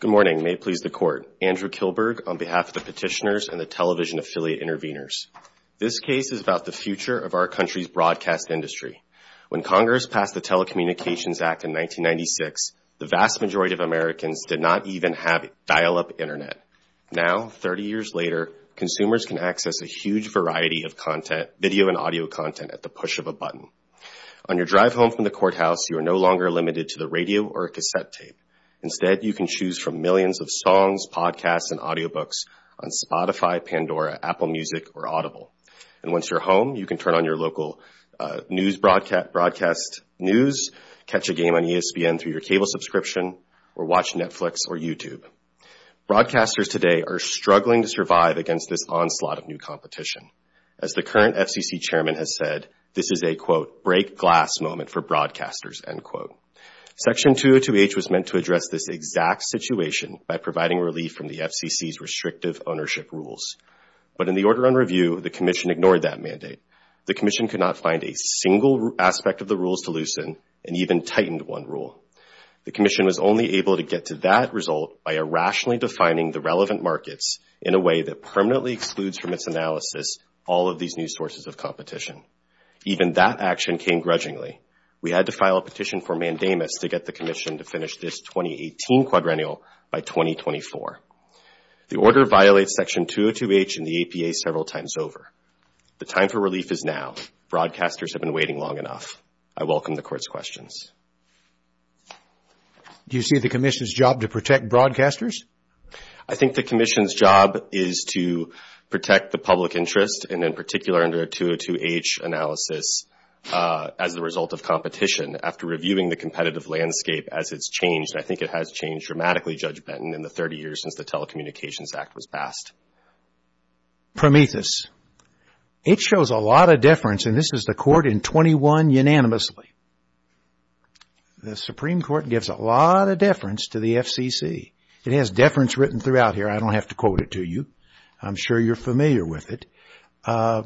Good morning. May it please the Court. Andrew Kilberg, on behalf of the petitioners and the television affiliate interveners. This case is about the future of our country's broadcast industry. When Congress passed the Telecommunications Act in 1996, the vast majority of Americans did not even have dial-up Internet. Now, 30 years later, consumers can access a huge variety of content, video and audio content, at the push of a button. On your drive home from the courthouse, you are no longer limited to the radio or cassette tape. Instead, you can choose from millions of songs, podcasts and audiobooks on Spotify, Pandora, Apple Music or Audible. And once you're home, you can turn on your local news broadcast news, catch a game on ESPN through your cable subscription or watch Netflix or YouTube. Broadcasters today are struggling to survive against this onslaught of new competition. As the current FCC Chairman has said, this is a, quote, break-glass moment for broadcasters, end quote. Section 202H was meant to address this exact situation by providing relief from the FCC's restrictive ownership rules. But in the order on review, the Commission ignored that mandate. The Commission could not find a single aspect of the rules to loosen and even tightened one rule. The Commission was only able to get to that result by irrationally defining the relevant markets in a way that permanently excludes from its analysis all of these new sources of competition. Even that action came grudgingly. We had to file a petition for mandamus to get the Commission to finish this 2018 quadrennial by 2024. The order violates Section 202H and the APA several times over. The time for relief is now. Broadcasters have been waiting long enough. I welcome the Court's questions. Do you see the Commission's job to protect broadcasters? I think the Commission's job is to protect the public interest and, in particular, under the 202H analysis as the result of competition. After reviewing the competitive landscape as it's changed, I think it has changed dramatically, Judge Benton, in the 30 years since the Telecommunications Act was passed. Prometheus. It shows a lot of deference, and this is the Court in 21 unanimously. The Supreme Court gives a lot of deference to the FCC. It has deference written throughout here. I don't have to quote it to you. I'm sure you're familiar with it. Why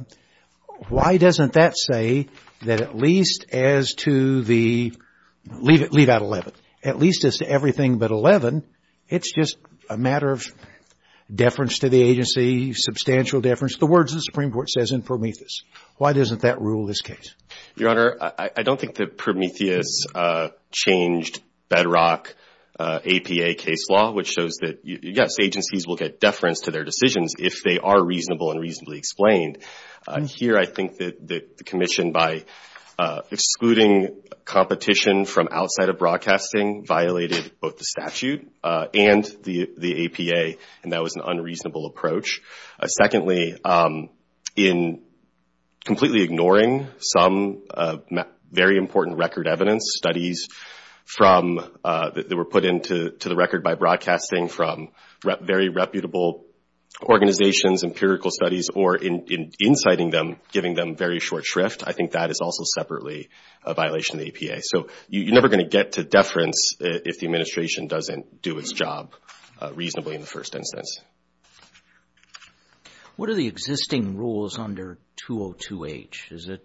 doesn't that say that at least as to everything but 11, it's just a matter of deference to the agency, substantial deference, the words the Supreme Court says in Prometheus. Why doesn't that rule this case? Your Honor, I don't think that Prometheus changed bedrock APA case law, which shows that, yes, agencies will get deference to their decisions if they are reasonable and explained. Here, I think that the Commission, by excluding competition from outside of broadcasting, violated both the statute and the APA, and that was an unreasonable approach. Secondly, in completely ignoring some very important record evidence studies that were put into the record by broadcasting from very reputable organizations, empirical studies, or in inciting them, giving them very short shrift, I think that is also separately a violation of the APA. You're never going to get to deference if the administration doesn't do its job reasonably in the first instance. What are the existing rules under 202H? Is it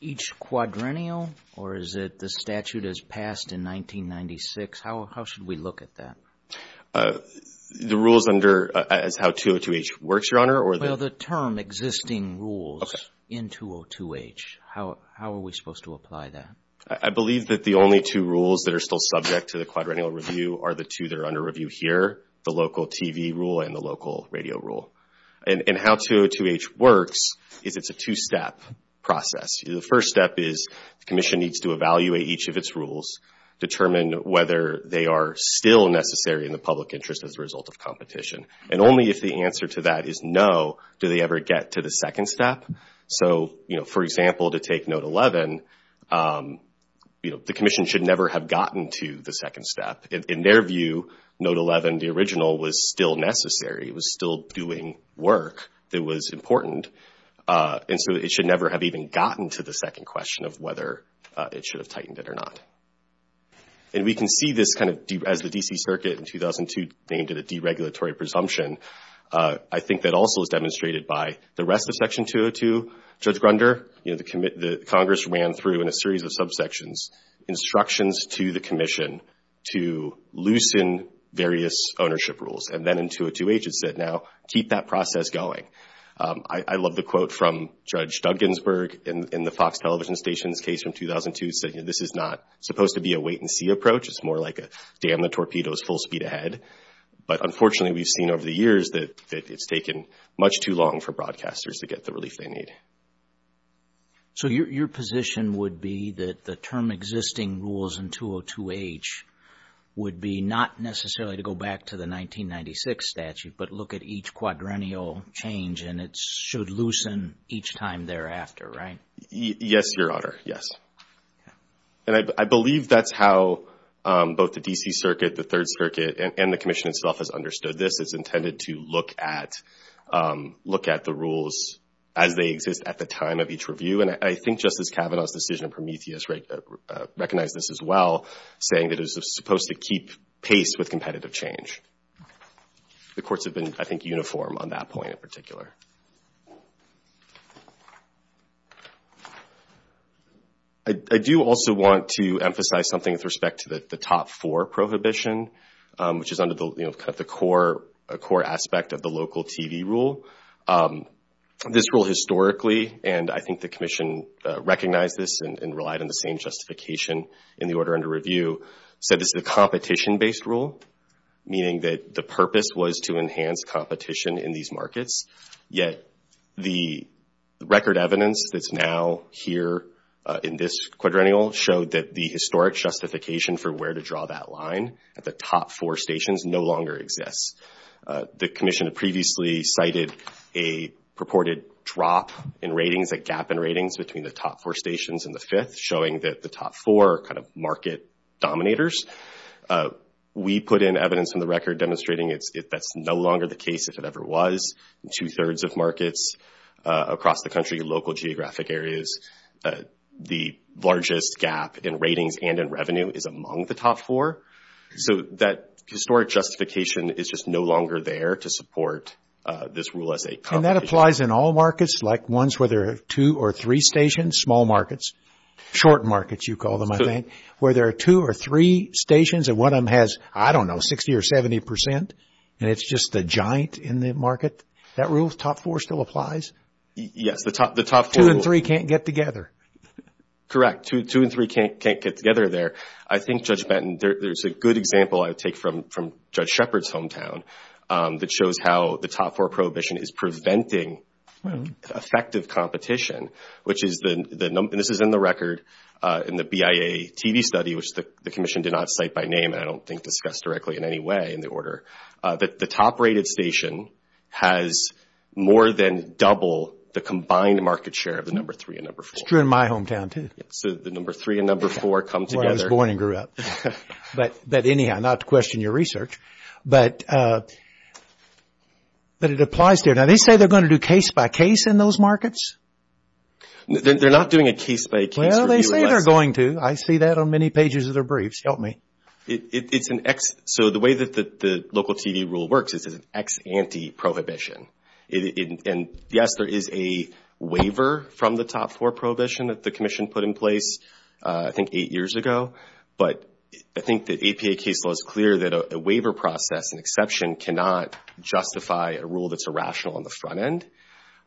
each quadrennial, or is it the statute as passed in 1996? How should we look at that? The rules under, as how 202H works, Your Honor, or the... Well, the term existing rules in 202H. How are we supposed to apply that? I believe that the only two rules that are still subject to the quadrennial review are the two that are under review here, the local TV rule and the local radio rule. How 202H works is it's a two-step process. The first step is the Commission needs to evaluate each of its rules, determine whether they are still necessary in the public interest as a result of competition. Only if the answer to that is no do they ever get to the second step. For example, to take Note 11, the Commission should never have gotten to the second step. In their view, Note 11, the original, was still necessary. It was still doing work that was important. It should never have even gotten to the second question of whether it should have tightened it or not. We can see this as the D.C. Circuit in 2002 named it a deregulatory presumption. I think that also is demonstrated by the rest of Section 202. Judge Grunder, the Congress ran through in a series of subsections instructions to the Commission to loosen various ownership rules. Then in 202H it said, now keep that process going. I love the quote from Judge Dugginsburg in the Fox television station's case from 2002 saying this is not supposed to be a wait and see approach. It's more like a dam the torpedoes full speed ahead. But unfortunately we've seen over the years that it's taken much too long for broadcasters to get the relief they need. So your position would be that the term existing rules in 202H would be not necessarily to go back to the 1996 statute, but look at each quadrennial change and it should loosen each time thereafter, right? Yes, Your Honor. Yes. And I believe that's how both the D.C. Circuit, the Third Circuit and the Commission itself has understood this. It's intended to look at the rules as they exist at the time of each review. And I think Justice Kavanaugh's decision in Prometheus recognized this as well, saying that it was supposed to keep pace with competitive change. The courts have been, I think, uniform on that point in particular. I do also want to emphasize something with respect to the top four prohibition, which is under the core aspect of the local TV rule. This rule historically, and I think the Commission recognized this and relied on the same justification in the order under review, said this is a competition-based rule, meaning that the purpose was to enhance competition in these markets. Yet the record evidence that's now here in this quadrennial showed that the historic justification for where to draw that line at the top four stations no longer exists. The Commission had previously cited a purported drop in ratings, a gap in ratings between the top four stations and the fifth, showing that the top four are kind of market dominators. We put in evidence in the record demonstrating that's no longer the case if it ever was. Two-thirds of markets across the country, local geographic areas, the largest gap in ratings and in revenue is among the top four. So that historic justification is just no longer there to support this rule as a competition. I mean, that applies in all markets, like ones where there are two or three stations, small markets, short markets you call them, I think, where there are two or three stations and one of them has, I don't know, 60 or 70 percent, and it's just a giant in the market. That rule, top four still applies? Yes, the top four rule. Two and three can't get together. Correct. Two and three can't get together there. I think, Judge Benton, there's a good example I would take from Judge Shepard's hometown that shows how the top four prohibition is preventing effective competition, which is the – and this is in the record in the BIA TV study, which the commission did not cite by name and I don't think discussed directly in any way in the order – that the top rated station has more than double the combined market share of the number three and number four. It's true in my hometown, too. So the number three and number four come together. That's where I was born and grew up. But anyhow, not to question your research, but it applies there. Now, they say they're going to do case-by-case in those markets? They're not doing a case-by-case. Well, they say they're going to. I see that on many pages of their briefs. Help me. It's an – so the way that the local TV rule works is it's an ex-ante prohibition. And yes, there is a waiver from the top four prohibition that the commission put in place I think eight years ago. But I think that APA case law is clear that a waiver process and exception cannot justify a rule that's irrational on the front end.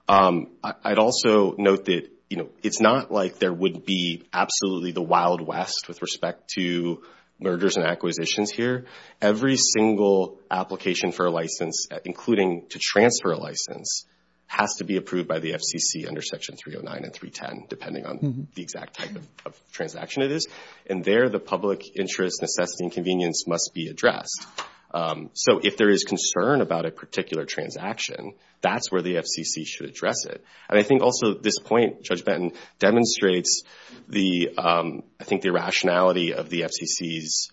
I'd also note that, you know, it's not like there would be absolutely the Wild West with respect to mergers and acquisitions here. Every single application for a license, including to transfer a license, has to be approved by the FCC under Section 309 and 310, depending on the exact type of transaction it is. And there, the public interest, necessity, and convenience must be addressed. So if there is concern about a particular transaction, that's where the FCC should address it. And I think also this point, Judge Benton, demonstrates the – I think the irrationality of the FCC's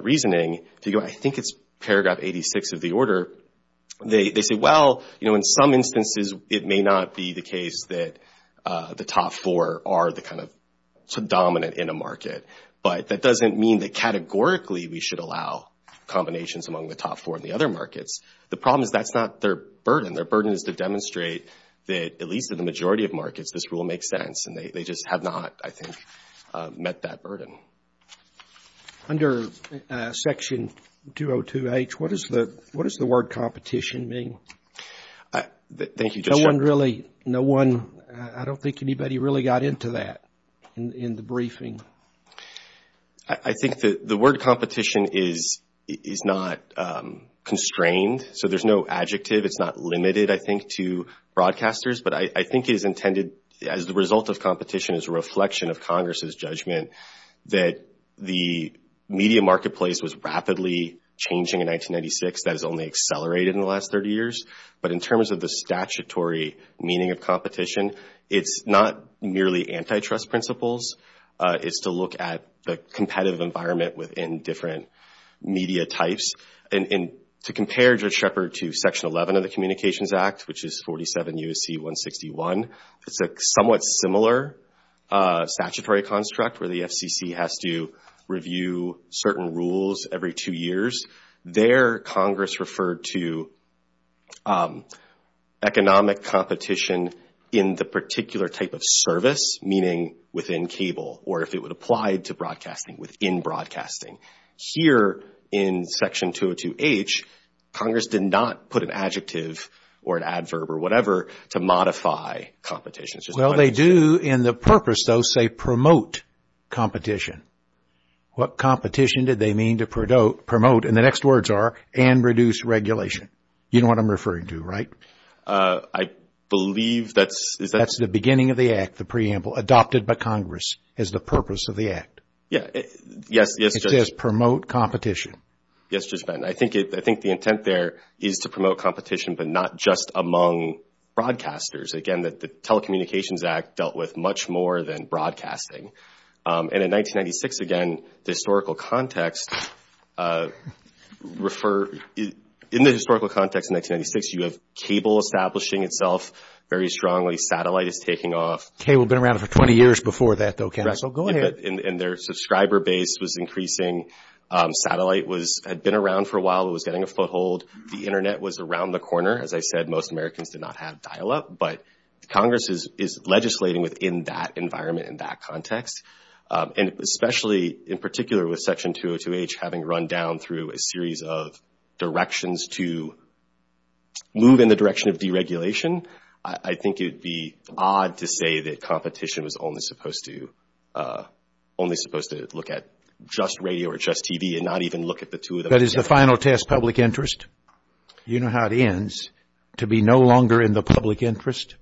reasoning. I think it's paragraph 86 of the order. They say, well, you know, in some instances it may not be the case that the top four are the kind of dominant in a market. But that doesn't mean that categorically we should allow combinations among the top four in the other markets. The problem is that's not their burden. Their burden is to demonstrate that, at least in the majority of markets, this rule makes sense. And they just have not, I think, met that burden. Under Section 202H, what does the word competition mean? Thank you, Judge Benton. No one really – I don't think anybody really got into that in the briefing. I think the word competition is not constrained. So there's no adjective. It's not limited, I think, to broadcasters. But I think it is intended as the result of competition, as a reflection of Congress' judgment, that the media marketplace was rapidly changing in 1996. That has only accelerated in the last 30 years. But in terms of the statutory meaning of competition, it's not merely antitrust principles. It's to look at the competitive environment within different media types. And to compare Judge Shepard to Section 11 of the Communications Act, which is 47 U.S.C. 161, it's a somewhat similar statutory construct where the FCC has to review certain rules every two years. There, Congress referred to economic competition in the particular type of service, meaning within cable, or if it would apply to broadcasting, within broadcasting. Here, in Section 202H, Congress did not put an adjective or an adverb or whatever to modify competition. Well, they do in the purpose, though, say promote competition. What competition did they mean to promote? And the next words are, and reduce regulation. You know what I'm referring to, right? I believe that's... That's the beginning of the Act, the preamble, adopted by Congress as the purpose of the Act. Yeah, yes, yes. It says promote competition. Yes, Judge Benton. I think the intent there is to promote competition, but not just among broadcasters. Again, the Telecommunications Act dealt with much more than broadcasting. And in 1996, again, the historical context refer... In the historical context in 1996, you have cable establishing itself very strongly. Satellite is taking off. Cable had been around for 20 years before that, though, Counsel. Go ahead. And their subscriber base was increasing. Satellite had been around for a while. It was getting a foothold. The Internet was around the corner. As I said, most Americans did not have dial-up. But Congress is legislating within that environment, in that context. And especially, in particular, with Section 202H having run down through a series of directions to move in the direction of deregulation, I think it would be odd to say that competition was only supposed to look at just radio or just TV and not even look at the two of them together. That is the final test public interest. You know how it ends, to be no longer in the public interest.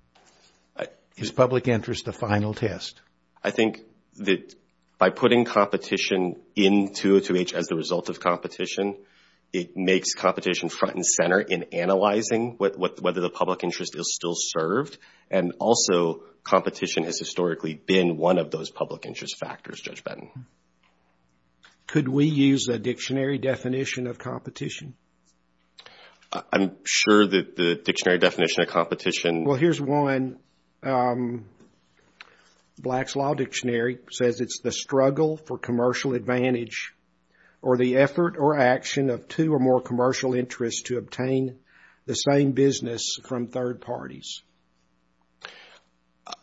Is public interest the final test? I think that by putting competition in 202H as the result of competition, it makes competition front and center in analyzing whether the public interest is still served. And also, competition has historically been one of those public interest factors, Judge Benton. Could we use a dictionary definition of competition? I'm sure that the dictionary definition of competition... Well, here's one. Black's Law Dictionary says it's the struggle for commercial advantage or the effort or action of two or more commercial interests to obtain the same business from third parties.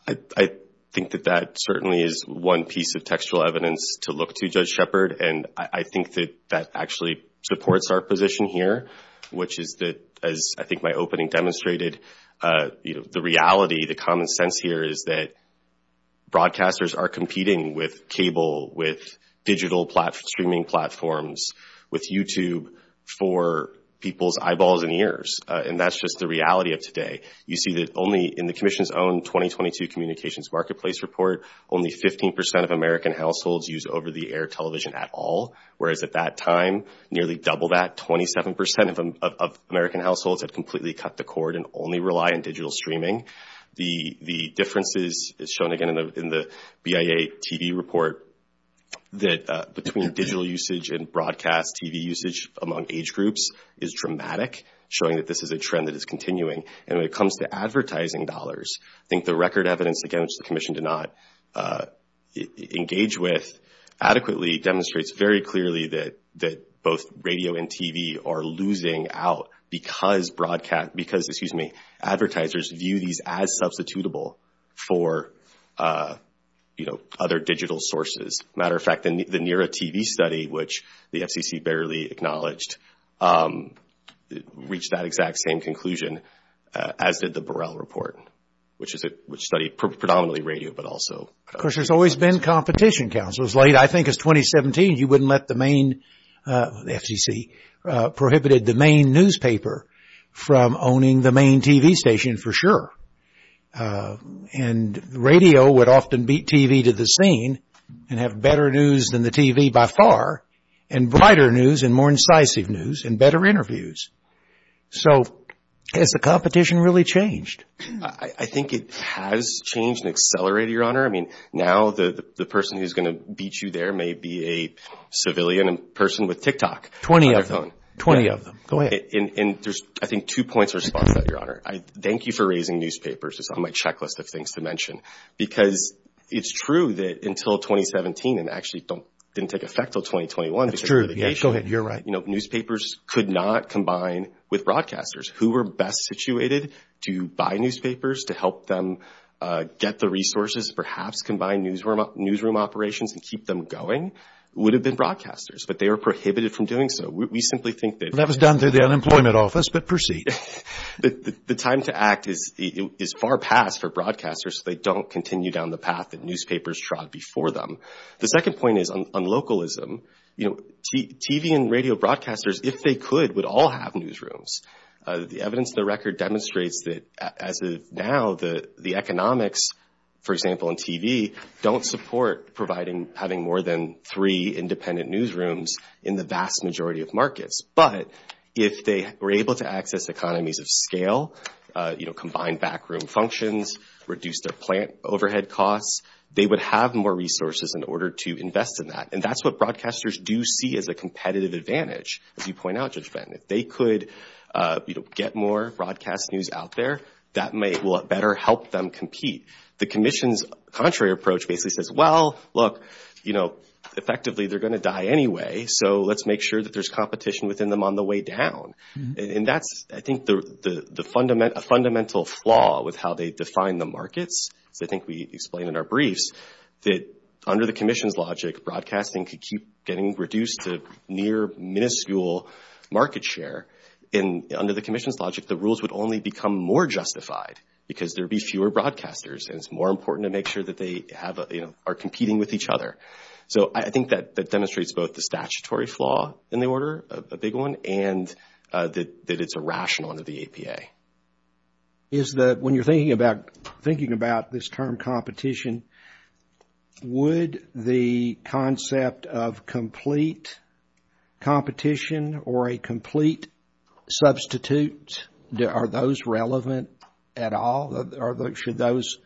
I think that that certainly is one piece of textual evidence to look to, Judge Shepard. And I think that that actually supports our position here, which is that, as I think my opening demonstrated, the reality, the common sense here is that broadcasters are competing with cable, with digital streaming platforms, with YouTube for people's eyeballs and ears. And that's just the reality of today. You see that only in the Commission's own 2022 Communications Marketplace Report, only 15% of American households use over-the-air television at all, whereas at that time, nearly double that, 27% of American households had completely cut the cord and only rely on digital streaming. The difference is shown again in the BIA TV report that between digital usage and broadcast TV usage among age groups is dramatic, showing that this is a trend that is continuing. And when it comes to advertising dollars, I think the record evidence, again, which the Commission did not engage with adequately demonstrates very clearly that both radio and TV are losing out because advertisers view these as substitutable for other digital sources. As a matter of fact, the NERA TV study, which the FCC barely acknowledged, reached that exact same conclusion, as did the Burrell report, which studied predominantly radio, but also… Of course, there's always been competition, Counsel. As late, I think, as 2017, you wouldn't let the main – the FCC prohibited the main newspaper from owning the main TV station for sure. And radio would often beat TV to the scene and have better news than the TV by far, and brighter news and more incisive news and better interviews. So has the competition really changed? I think it has changed and accelerated, Your Honor. I mean, now the person who's going to beat you there may be a civilian person with TikTok on their phone. Twenty of them. Twenty of them. Go ahead. And there's, I think, two points to respond to that, Your Honor. Thank you for raising newspapers. It's on my checklist of things to mention. Because it's true that until 2017, and actually didn't take effect until 2021… It's true. Go ahead. You're right. You know, newspapers could not combine with broadcasters. Who were best situated to buy newspapers, to help them get the resources, perhaps combine newsroom operations and keep them going, would have been broadcasters. But they were prohibited from doing so. We simply think that… That was done through the unemployment office, but proceed. The time to act is far past for broadcasters, so they don't continue down the path that newspapers trod before them. The second point is on localism. You know, TV and radio broadcasters, if they could, would all have newsrooms. The evidence of the record demonstrates that as of now, the economics, for example, in TV, don't support having more than three independent newsrooms in the vast majority of markets. But if they were able to access economies of scale, you know, combine backroom functions, reduce their plant overhead costs, they would have more resources in order to invest in that. And that's what broadcasters do see as a competitive advantage, as you point out, Judge Ben. If they could, you know, get more broadcast news out there, that will better help them compete. The commission's contrary approach basically says, well, look, you know, effectively they're going to die anyway, so let's make sure that there's competition within them on the way down. And that's, I think, a fundamental flaw with how they define the markets. So I think we explained in our briefs that under the commission's logic, broadcasting could keep getting reduced to near minuscule market share. And under the commission's logic, the rules would only become more justified because there would be fewer broadcasters, and it's more important to make sure that they have, you know, are competing with each other. So I think that demonstrates both the statutory flaw in the order, a big one, and that it's irrational under the APA. Is that when you're thinking about this term competition, would the concept of complete competition or a complete substitute, are those relevant at all? Or should those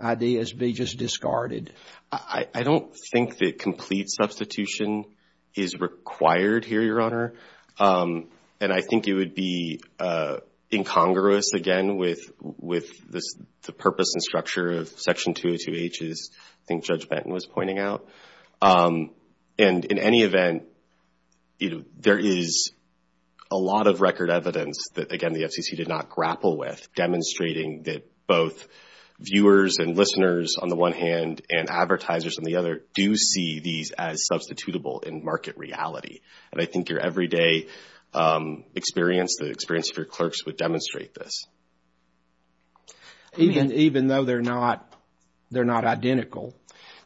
ideas be just discarded? I don't think that complete substitution is required here, Your Honor. And I think it would be incongruous, again, with the purpose and structure of Section 202H, as I think Judge Benton was pointing out. And in any event, there is a lot of record evidence that, again, the FCC did not grapple with, demonstrating that both viewers and listeners, on the one hand, and advertisers on the other, do see these as substitutable in market reality. And I think your everyday experience, the experience of your clerks would demonstrate this. Even though they're not identical?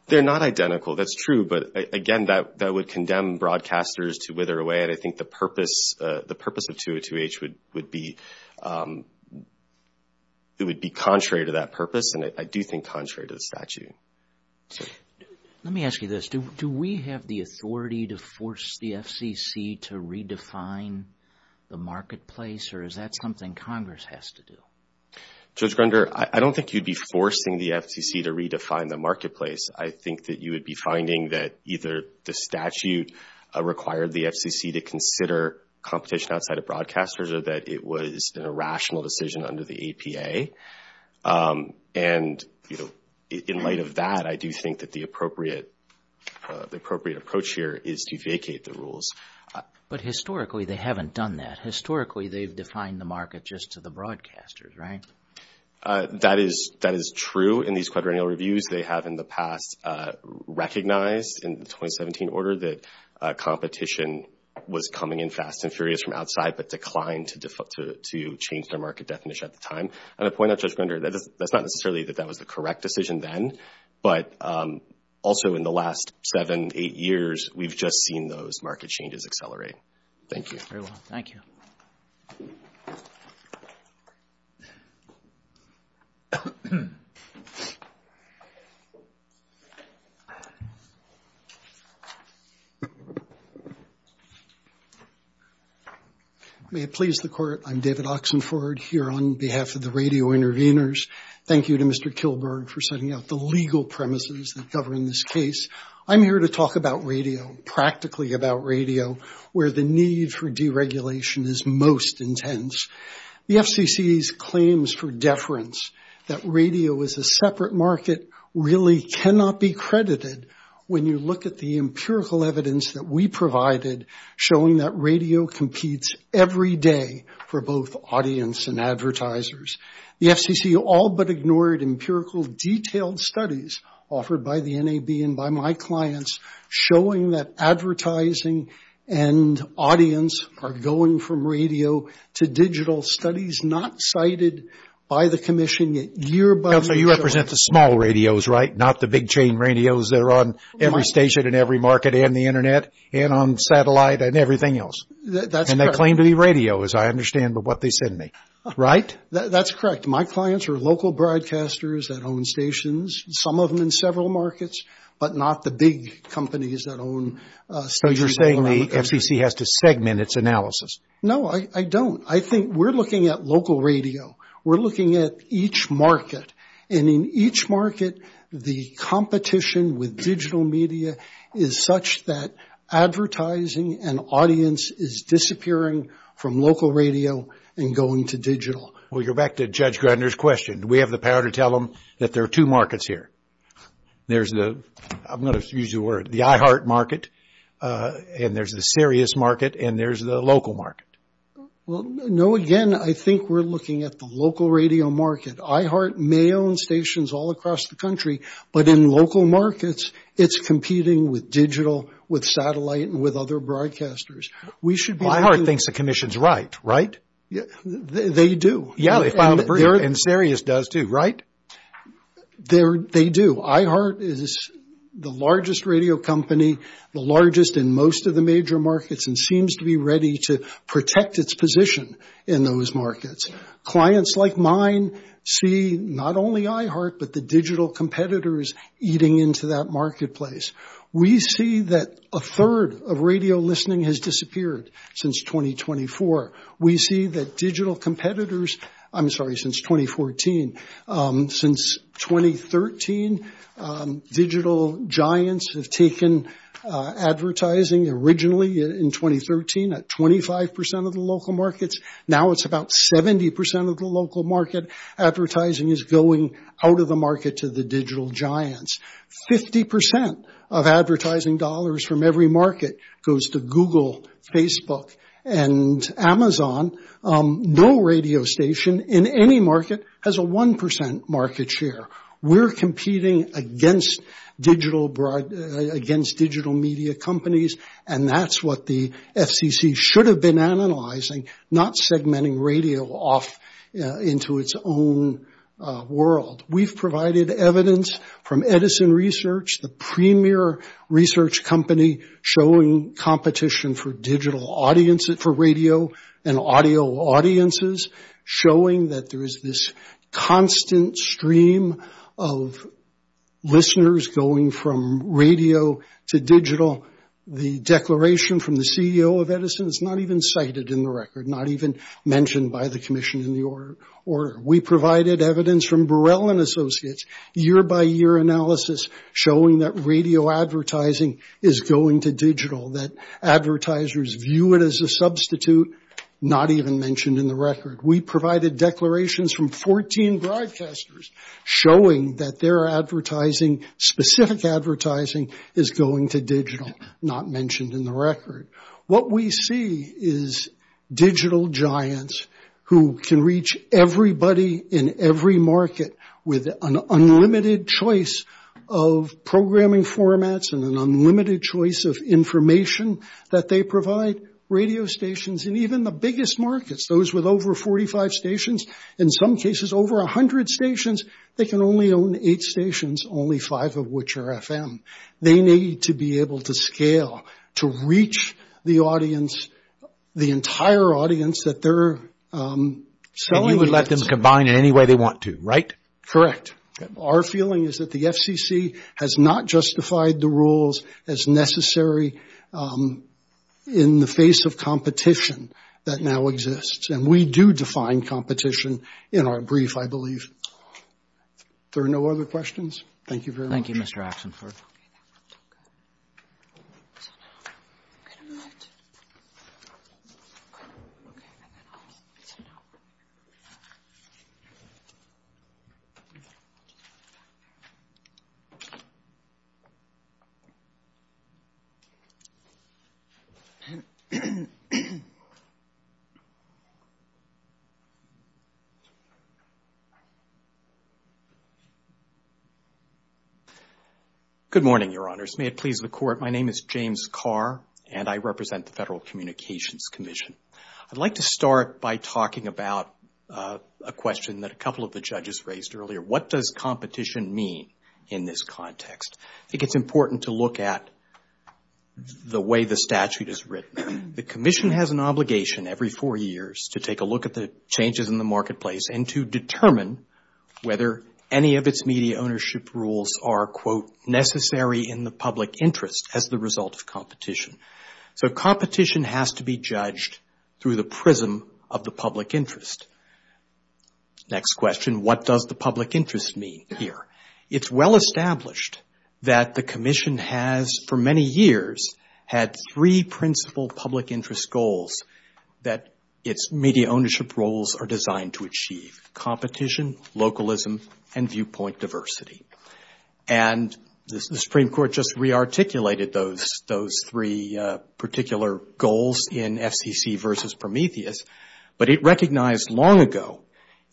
They're not identical, that's true. But, again, that would condemn broadcasters to wither away. And, again, I think the purpose of 202H would be contrary to that purpose, and I do think contrary to the statute. Let me ask you this. Do we have the authority to force the FCC to redefine the marketplace, or is that something Congress has to do? Judge Grunder, I don't think you'd be forcing the FCC to redefine the marketplace. I think that you would be finding that either the statute required the FCC to consider competition outside of broadcasters, or that it was an irrational decision under the APA. And, you know, in light of that, I do think that the appropriate approach here is to vacate the rules. But, historically, they haven't done that. Historically, they've defined the market just to the broadcasters, right? That is true in these quadrennial reviews. They have in the past recognized in the 2017 order that competition was coming in fast and furious from outside, but declined to change their market definition at the time. And to point out, Judge Grunder, that's not necessarily that that was the correct decision then, but also in the last seven, eight years, we've just seen those market changes accelerate. Thank you. Very well. Thank you. May it please the Court, I'm David Oxenford here on behalf of the Radio Intervenors. Thank you to Mr. Kilberg for setting out the legal premises that govern this case. I'm here to talk about radio, practically about radio, where the need for deregulation is most intense. The FCC's claims for deference, that radio is a separate market, really cannot be credited when you look at the empirical evidence that we provided showing that radio competes every day for both audience and advertisers. The FCC all but ignored empirical detailed studies offered by the NAB and by my clients showing that advertising and audience are going from radio to digital studies not cited by the commission yet year by year. So you represent the small radios, right? Not the big chain radios that are on every station in every market and the Internet and on satellite and everything else. That's correct. And they claim to be radios, I understand, but what they send me, right? That's correct. My clients are local broadcasters that own stations, some of them in several markets, but not the big companies that own stations. So you're saying the FCC has to segment its analysis? No, I don't. I think we're looking at local radio. We're looking at each market, and in each market the competition with digital media is such that advertising and audience is disappearing from local radio and going to digital. Well, you're back to Judge Grunder's question. We have the power to tell them that there are two markets here. There's the, I'm going to use your word, the IHART market, and there's the Sirius market, and there's the local market. Well, no, again, I think we're looking at the local radio market. IHART may own stations all across the country, but in local markets it's competing with digital, with satellite, and with other broadcasters. IHART thinks the commission's right, right? They do. Yeah, and Sirius does too, right? They do. IHART is the largest radio company, the largest in most of the major markets, and seems to be ready to protect its position in those markets. Clients like mine see not only IHART but the digital competitors eating into that marketplace. We see that a third of radio listening has disappeared since 2024. We see that digital competitors, I'm sorry, since 2014. Since 2013, digital giants have taken advertising originally in 2013 at 25% of the local markets. Now it's about 70% of the local market. Advertising is going out of the market to the digital giants. 50% of advertising dollars from every market goes to Google, Facebook, and Amazon. No radio station in any market has a 1% market share. We're competing against digital media companies, and that's what the FCC should have been analyzing, not segmenting radio off into its own world. We've provided evidence from Edison Research, the premier research company, showing competition for radio and audio audiences, showing that there is this constant stream of listeners going from radio to digital. The declaration from the CEO of Edison is not even cited in the record, not even mentioned by the commission in the order. We provided evidence from Burrell and Associates, year-by-year analysis, showing that radio advertising is going to digital, that advertisers view it as a substitute, not even mentioned in the record. We provided declarations from 14 broadcasters, showing that their advertising, specific advertising, is going to digital, not mentioned in the record. What we see is digital giants who can reach everybody in every market with an unlimited choice of programming formats and an unlimited choice of information that they provide, radio stations, and even the biggest markets, those with over 45 stations, in some cases over 100 stations, they can only own eight stations, only five of which are FM. They need to be able to scale, to reach the audience, the entire audience that they're selling. And you would let them combine in any way they want to, right? Correct. Our feeling is that the FCC has not justified the rules as necessary in the face of competition that now exists, and we do define competition in our brief, I believe. Are there no other questions? Thank you very much. Thank you, Mr. Axenford. Good morning, Your Honors. May it please the Court, my name is James Carr, and I represent the Federal Communications Commission. I'd like to start by talking about a question that a couple of the judges raised earlier. What does competition mean in this context? I think it's important to look at the way the statute is written. The Commission has an obligation every four years to take a look at the changes in the marketplace and to determine whether any of its media ownership rules are, quote, necessary in the public interest as the result of competition. So competition has to be judged through the prism of the public interest. Next question, what does the public interest mean here? It's well established that the Commission has, for many years, had three principal public interest goals that its media ownership rules are designed to achieve, competition, localism, and viewpoint diversity. And the Supreme Court just re-articulated those three particular goals in FCC versus Prometheus, but it recognized long ago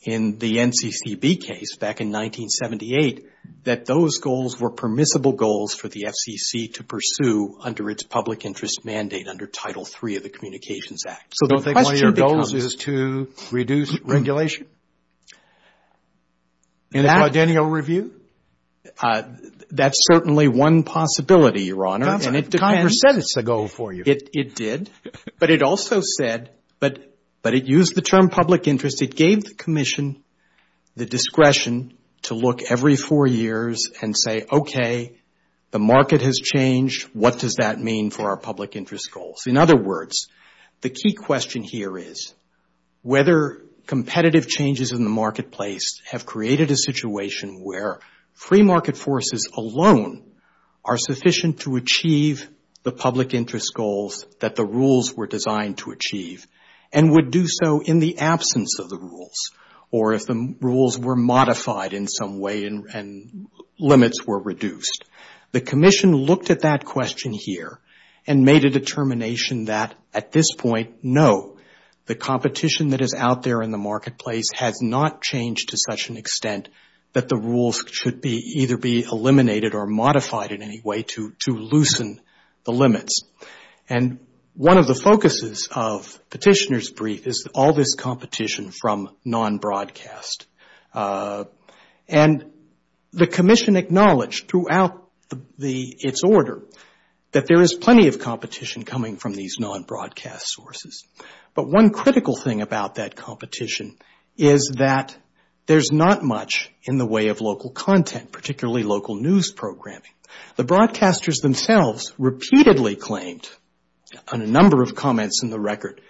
in the NCCB case back in 1978 that those goals were permissible goals for the FCC to pursue under its public interest mandate under Title III of the Communications Act. So don't think one of your goals is to reduce regulation? That's certainly one possibility, Your Honor, and it depends. Congress said it's a goal for you. It did, but it also said, but it used the term public interest. It gave the Commission the discretion to look every four years and say, okay, the market has changed. What does that mean for our public interest goals? In other words, the key question here is whether competitive changes in the marketplace have created a situation where free market forces alone are sufficient to achieve the public interest goals that the rules were designed to achieve and would do so in the absence of the rules or if the rules were modified in some way and limits were reduced. The Commission looked at that question here and made a determination that at this point, no, the competition that is out there in the marketplace has not changed to such an extent that the rules should be either be eliminated or modified in any way to loosen the limits. And one of the focuses of Petitioner's Brief is all this competition from non-broadcast. And the Commission acknowledged throughout its order that there is plenty of competition coming from these non-broadcast sources. But one critical thing about that competition is that there's not much in the way of local content, particularly local news programming. The broadcasters themselves repeatedly claimed on a number of comments in the record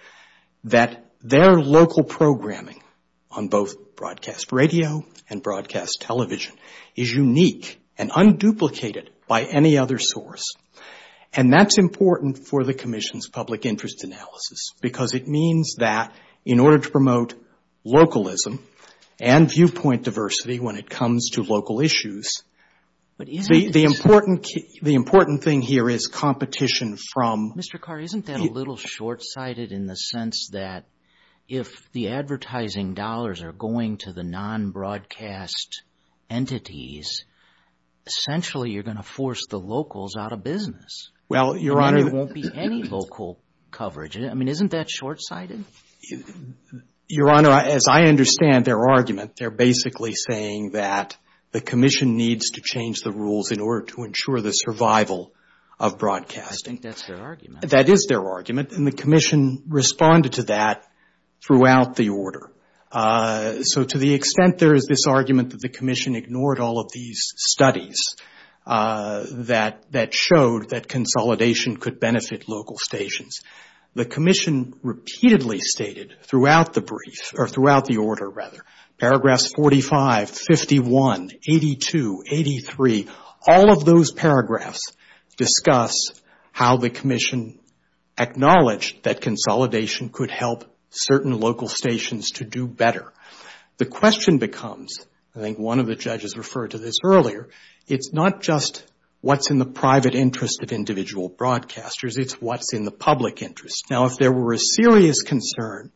that their local programming on both broadcast radio and broadcast television is unique and unduplicated by any other source. And that's important for the Commission's public interest analysis because it means that in order to promote localism and viewpoint diversity when it comes to local issues, the important thing here is competition from... Mr. Carr, isn't that a little short-sighted in the sense that if the advertising dollars are going to the non-broadcast entities, essentially you're going to force the locals out of business? Well, Your Honor... There won't be any local coverage. I mean, isn't that short-sighted? Your Honor, as I understand their argument, they're basically saying that the Commission needs to change the rules in order to ensure the survival of broadcasting. I think that's their argument. That is their argument, and the Commission responded to that throughout the order. So to the extent there is this argument that the Commission ignored all of these studies that showed that consolidation could benefit local stations, the Commission repeatedly stated throughout the brief, or throughout the order rather, paragraphs 45, 51, 82, 83, all of those paragraphs discuss how the Commission acknowledged that consolidation could help certain local stations to do better. The question becomes, I think one of the judges referred to this earlier, it's not just what's in the private interest of individual broadcasters. It's what's in the public interest. Now, if there were a serious concern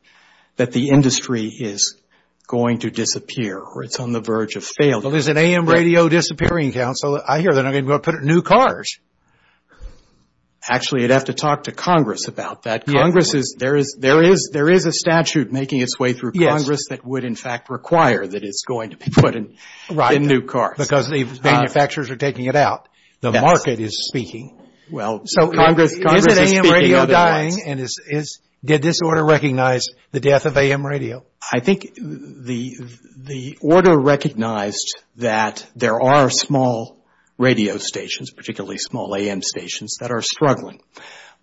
that the industry is going to disappear or it's on the verge of failure... Well, there's an AM radio disappearing council. I hear they're not going to put in new cars. Actually, you'd have to talk to Congress about that. Congress is... There is a statute making its way through Congress that would in fact require that it's going to be put in new cars. Because the manufacturers are taking it out. The market is speaking. So is an AM radio dying? Did this order recognize the death of AM radio? I think the order recognized that there are small radio stations, particularly small AM stations, that are struggling.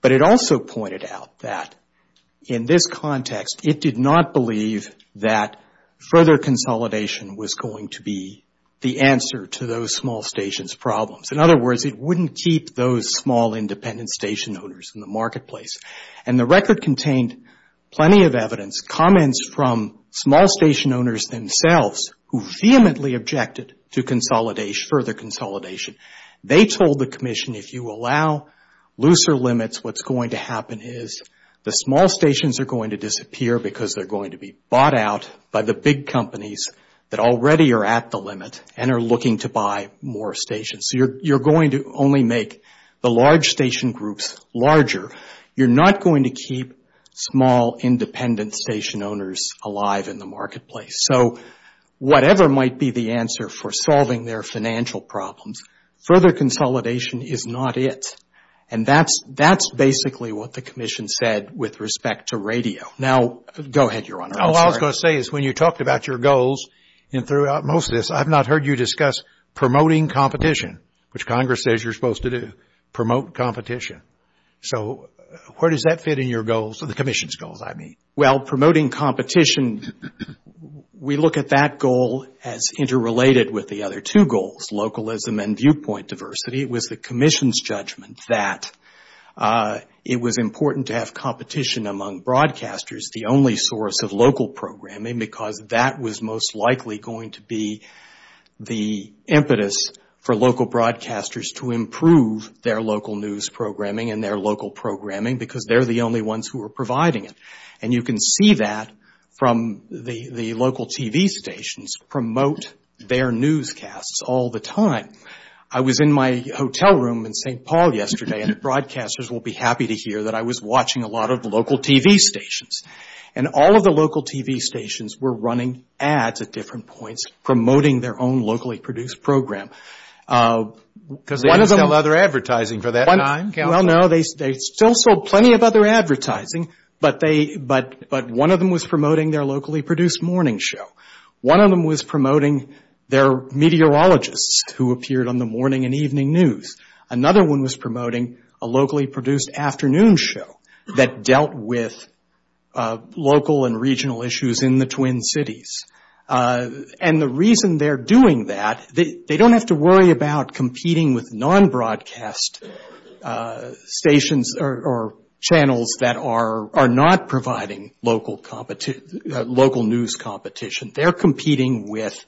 But it also pointed out that in this context, it did not believe that further consolidation was going to be the answer to those small stations' problems. In other words, it wouldn't keep those small independent station owners in the marketplace. And the record contained plenty of evidence, comments from small station owners themselves, who vehemently objected to further consolidation. They told the commission, if you allow looser limits, what's going to happen is the small stations are going to disappear because they're going to be bought out by the big companies that already are at the limit and are looking to buy more stations. So you're going to only make the large station groups larger. You're not going to keep small independent station owners alive in the marketplace. So whatever might be the answer for solving their financial problems, further consolidation is not it. And that's basically what the commission said with respect to radio. Now, go ahead, Your Honor. All I was going to say is when you talked about your goals and throughout most of this, I've not heard you discuss promoting competition, which Congress says you're supposed to do, promote competition. So where does that fit in your goals, the commission's goals, I mean? Well, promoting competition, we look at that goal as interrelated with the other two goals, localism and viewpoint diversity. It was the commission's judgment that it was important to have competition among broadcasters, the only source of local programming, because that was most likely going to be the impetus for local broadcasters to improve their local news programming and their local programming because they're the only ones who are providing it. And you can see that from the local TV stations promote their newscasts all the time. I was in my hotel room in St. Paul yesterday, and the broadcasters will be happy to hear that I was watching a lot of local TV stations. And all of the local TV stations were running ads at different points, promoting their own locally produced program. Because they didn't sell other advertising for that time. Well, no, they still sold plenty of other advertising, but one of them was promoting their locally produced morning show. One of them was promoting their meteorologists who appeared on the morning and evening news. Another one was promoting a locally produced afternoon show that dealt with local and regional issues in the Twin Cities. And the reason they're doing that, they don't have to worry about competing with non-broadcast stations or channels that are not providing local news competition. They're competing with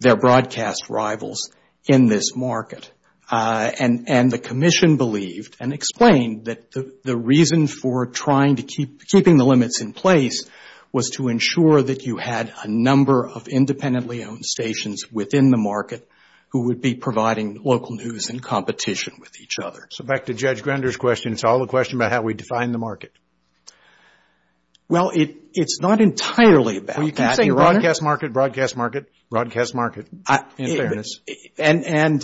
their broadcast rivals in this market. And the commission believed and explained that the reason for trying to keep, keeping the limits in place was to ensure that you had a number of independently owned stations within the market who would be providing local news and competition with each other. So back to Judge Grender's question, it's all a question about how we define the market. Well, it's not entirely about that. Well, you keep saying broadcast market, broadcast market, broadcast market, in fairness. And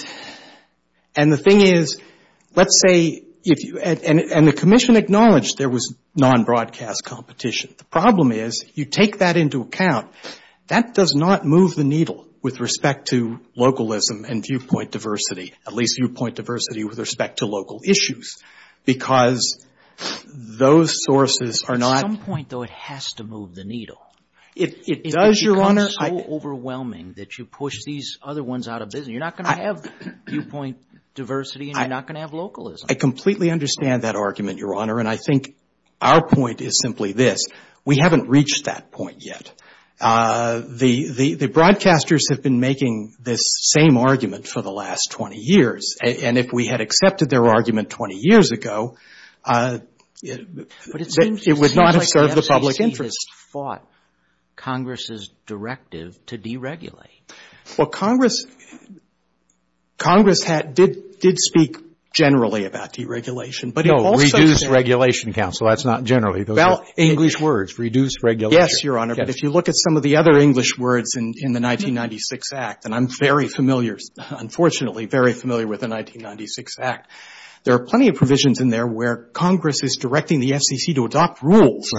the thing is, let's say, and the commission acknowledged there was non-broadcast competition. The problem is you take that into account. That does not move the needle with respect to localism and viewpoint diversity, at least viewpoint diversity with respect to local issues, because those sources are not. At some point, though, it has to move the needle. It does, Your Honor. It becomes so overwhelming that you push these other ones out of business. You're not going to have viewpoint diversity and you're not going to have localism. I completely understand that argument, Your Honor. And I think our point is simply this. We haven't reached that point yet. The broadcasters have been making this same argument for the last 20 years. And if we had accepted their argument 20 years ago, it would not have served the public interest. But it seems like the SEC has fought Congress's directive to deregulate. Well, Congress did speak generally about deregulation. No, reduce regulation, counsel. That's not generally. English words, reduce regulation. Yes, Your Honor. But if you look at some of the other English words in the 1996 Act, and I'm very familiar, unfortunately, very familiar with the 1996 Act, there are plenty of provisions in there where Congress is directing the SEC to adopt rules.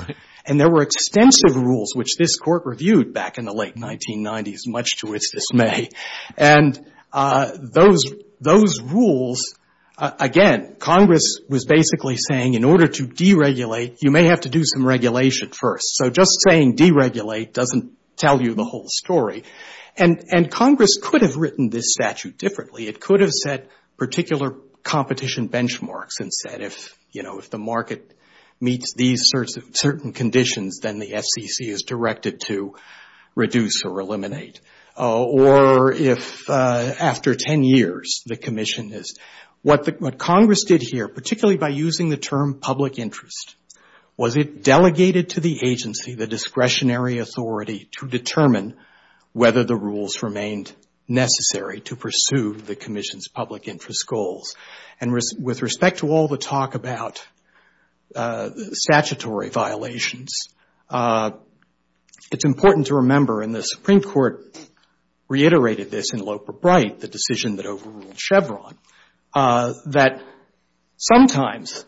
And there were extensive rules which this Court reviewed back in the late 1990s, much to its dismay. And those rules, again, Congress was basically saying, in order to deregulate, you may have to do some regulation first. So just saying deregulate doesn't tell you the whole story. And Congress could have written this statute differently. It could have set particular competition benchmarks and said, if the market meets these certain conditions, then the SEC is directed to reduce or eliminate. Or if after 10 years, the commission is. What Congress did here, particularly by using the term public interest, was it delegated to the agency, the discretionary authority, to determine whether the rules remained necessary to pursue the commission's public interest goals. And with respect to all the talk about statutory violations, it's important to remember, and the Supreme Court reiterated this in Loper-Bright, the decision that overruled Chevron, that sometimes,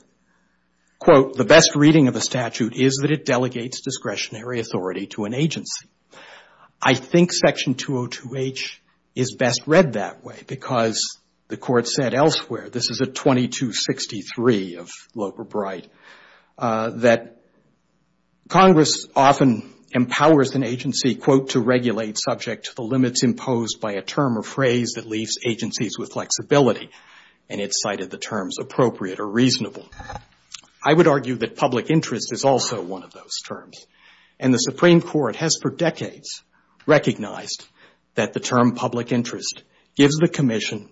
quote, the best reading of a statute is that it delegates discretionary authority to an agency. I think Section 202H is best read that way because the Court said elsewhere, this is a 2263 of Loper-Bright, that Congress often empowers an agency, quote, to regulate subject to the limits imposed by a term or phrase that leaves agencies with flexibility. And it cited the terms appropriate or reasonable. I would argue that public interest is also one of those terms. And the Supreme Court has for decades recognized that the term public interest gives the commission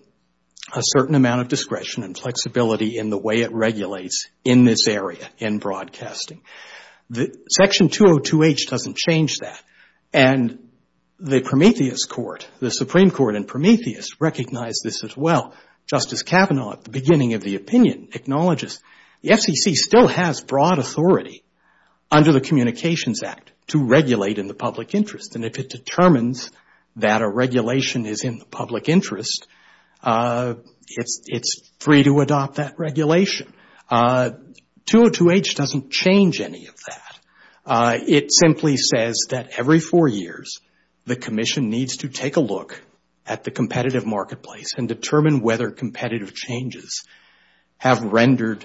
a certain amount of discretion and flexibility in the way it regulates in this area, in broadcasting. Section 202H doesn't change that. And the Prometheus Court, the Supreme Court in Prometheus, recognized this as well. Justice Kavanaugh at the beginning of the opinion acknowledges the FCC still has broad authority under the Communications Act to regulate in the public interest. And if it determines that a regulation is in the public interest, it's free to adopt that regulation. 202H doesn't change any of that. It simply says that every four years, the commission needs to take a look at the competitive marketplace and determine whether competitive changes have rendered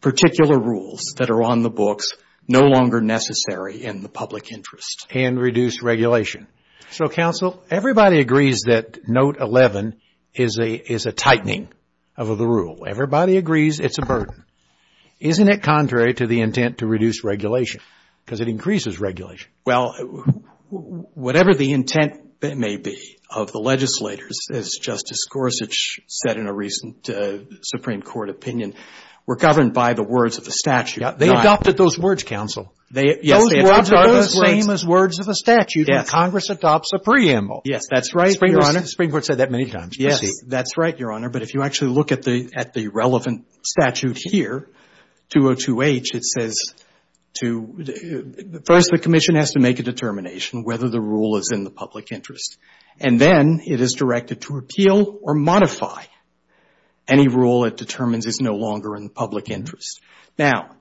particular rules that are on the books no longer necessary in the public interest and reduce regulation. So, counsel, everybody agrees that Note 11 is a tightening of the rule. Everybody agrees it's a burden. Isn't it contrary to the intent to reduce regulation? Because it increases regulation. Well, whatever the intent may be of the legislators, as Justice Gorsuch said in a recent Supreme Court opinion, were governed by the words of the statute. They adopted those words, counsel. Those words are the same as words of a statute. And Congress adopts a preamble. Yes, that's right, Your Honor. The Supreme Court said that many times. Yes, that's right, Your Honor. But if you actually look at the relevant statute here, 202H, it says to — first, the commission has to make a determination whether the rule is in the public interest. And then it is directed to appeal or modify any rule it determines is no longer in the public interest. Now,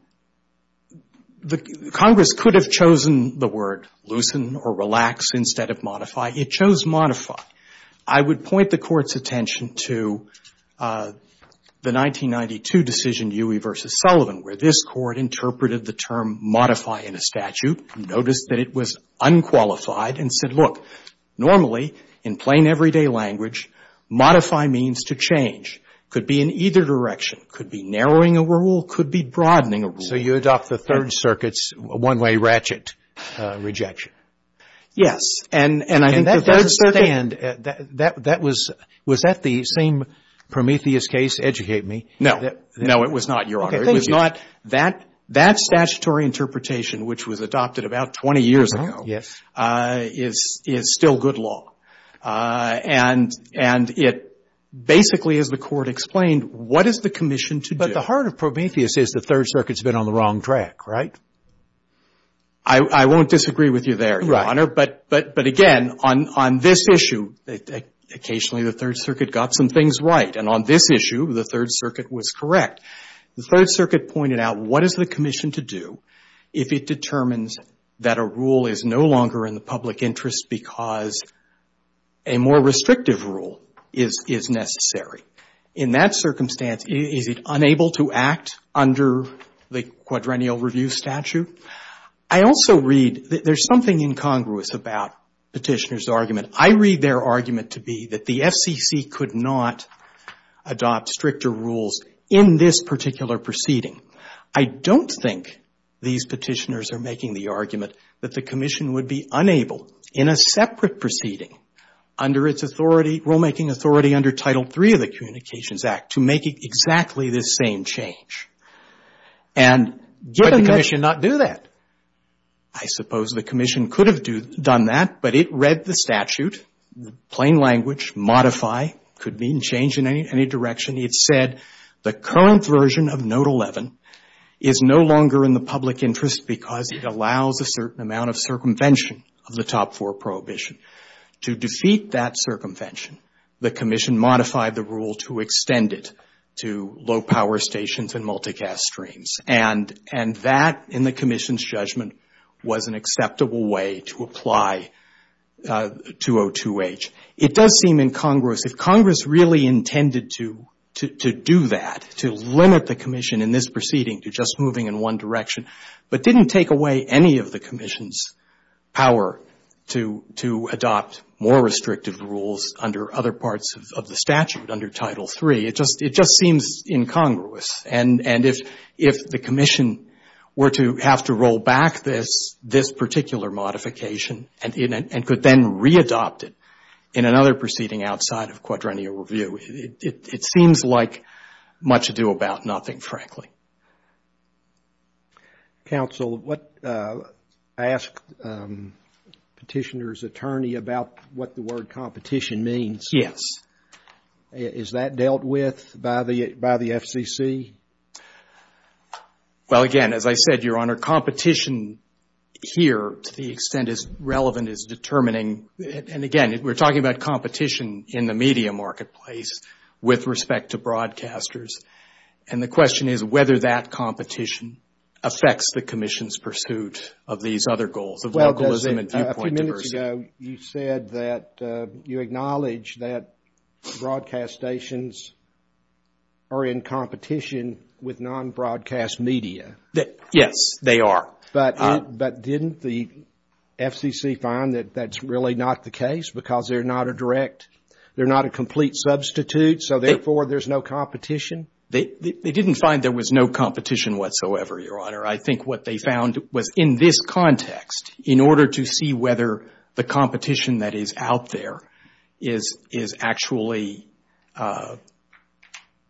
Congress could have chosen the word loosen or relax instead of modify. It chose modify. I would point the Court's attention to the 1992 decision, Dewey v. Sullivan, where this Court interpreted the term modify in a statute, noticed that it was unqualified, and said, look, normally, in plain everyday language, modify means to change. Could be in either direction. Could be narrowing a rule. Could be broadening a rule. So you adopt the Third Circuit's one-way ratchet rejection. Yes. And I think the Third Circuit — And that doesn't stand. That was — was that the same Prometheus case? Educate me. No. No, it was not, Your Honor. Okay, thank you. It was not. That statutory interpretation, which was adopted about 20 years ago — Uh-huh, yes. — is still good law. And it basically, as the Court explained, what is the commission to do? At the heart of Prometheus is the Third Circuit's been on the wrong track, right? I won't disagree with you there, Your Honor. But, again, on this issue, occasionally the Third Circuit got some things right. And on this issue, the Third Circuit was correct. The Third Circuit pointed out, what is the commission to do if it determines that a rule is no longer in the public interest because a more restrictive rule is necessary? In that circumstance, is it unable to act under the quadrennial review statute? I also read — there's something incongruous about Petitioner's argument. I read their argument to be that the FCC could not adopt stricter rules in this particular proceeding. I don't think these Petitioners are making the argument that the commission would be unable, in a separate proceeding under its authority, rulemaking authority under Title III of the Communications Act, to make exactly this same change. And given that — Could the commission not do that? I suppose the commission could have done that, but it read the statute, plain language, modify, could mean change in any direction. It said the current version of Note 11 is no longer in the public interest because it allows a certain amount of circumvention of the Top IV Prohibition. To defeat that circumvention, the commission modified the rule to extend it to low-power stations and multicast streams. And that, in the commission's judgment, was an acceptable way to apply 202H. It does seem, in Congress, if Congress really intended to do that, to limit the commission in this proceeding to just moving in one direction, but didn't take away any of the commission's power to adopt more restrictive rules under other parts of the statute, under Title III. It just seems incongruous. And if the commission were to have to roll back this particular modification and could then readopt it in another proceeding outside of quadrennial review, it seems like much ado about nothing, frankly. Counsel, I asked Petitioner's attorney about what the word competition means. Yes. Is that dealt with by the FCC? Well, again, as I said, Your Honor, competition here, to the extent as relevant as determining, and again, we're talking about competition in the media marketplace with respect to broadcasters. And the question is whether that competition affects the commission's pursuit of these other goals, of localism and viewpoint diversity. A few minutes ago, you said that you acknowledge that broadcast stations are in competition with non-broadcast media. Yes, they are. But didn't the FCC find that that's really not the case because they're not a direct, they're not a complete substitute, so therefore there's no competition? They didn't find there was no competition whatsoever, Your Honor. I think what they found was in this context, in order to see whether the competition that is out there is actually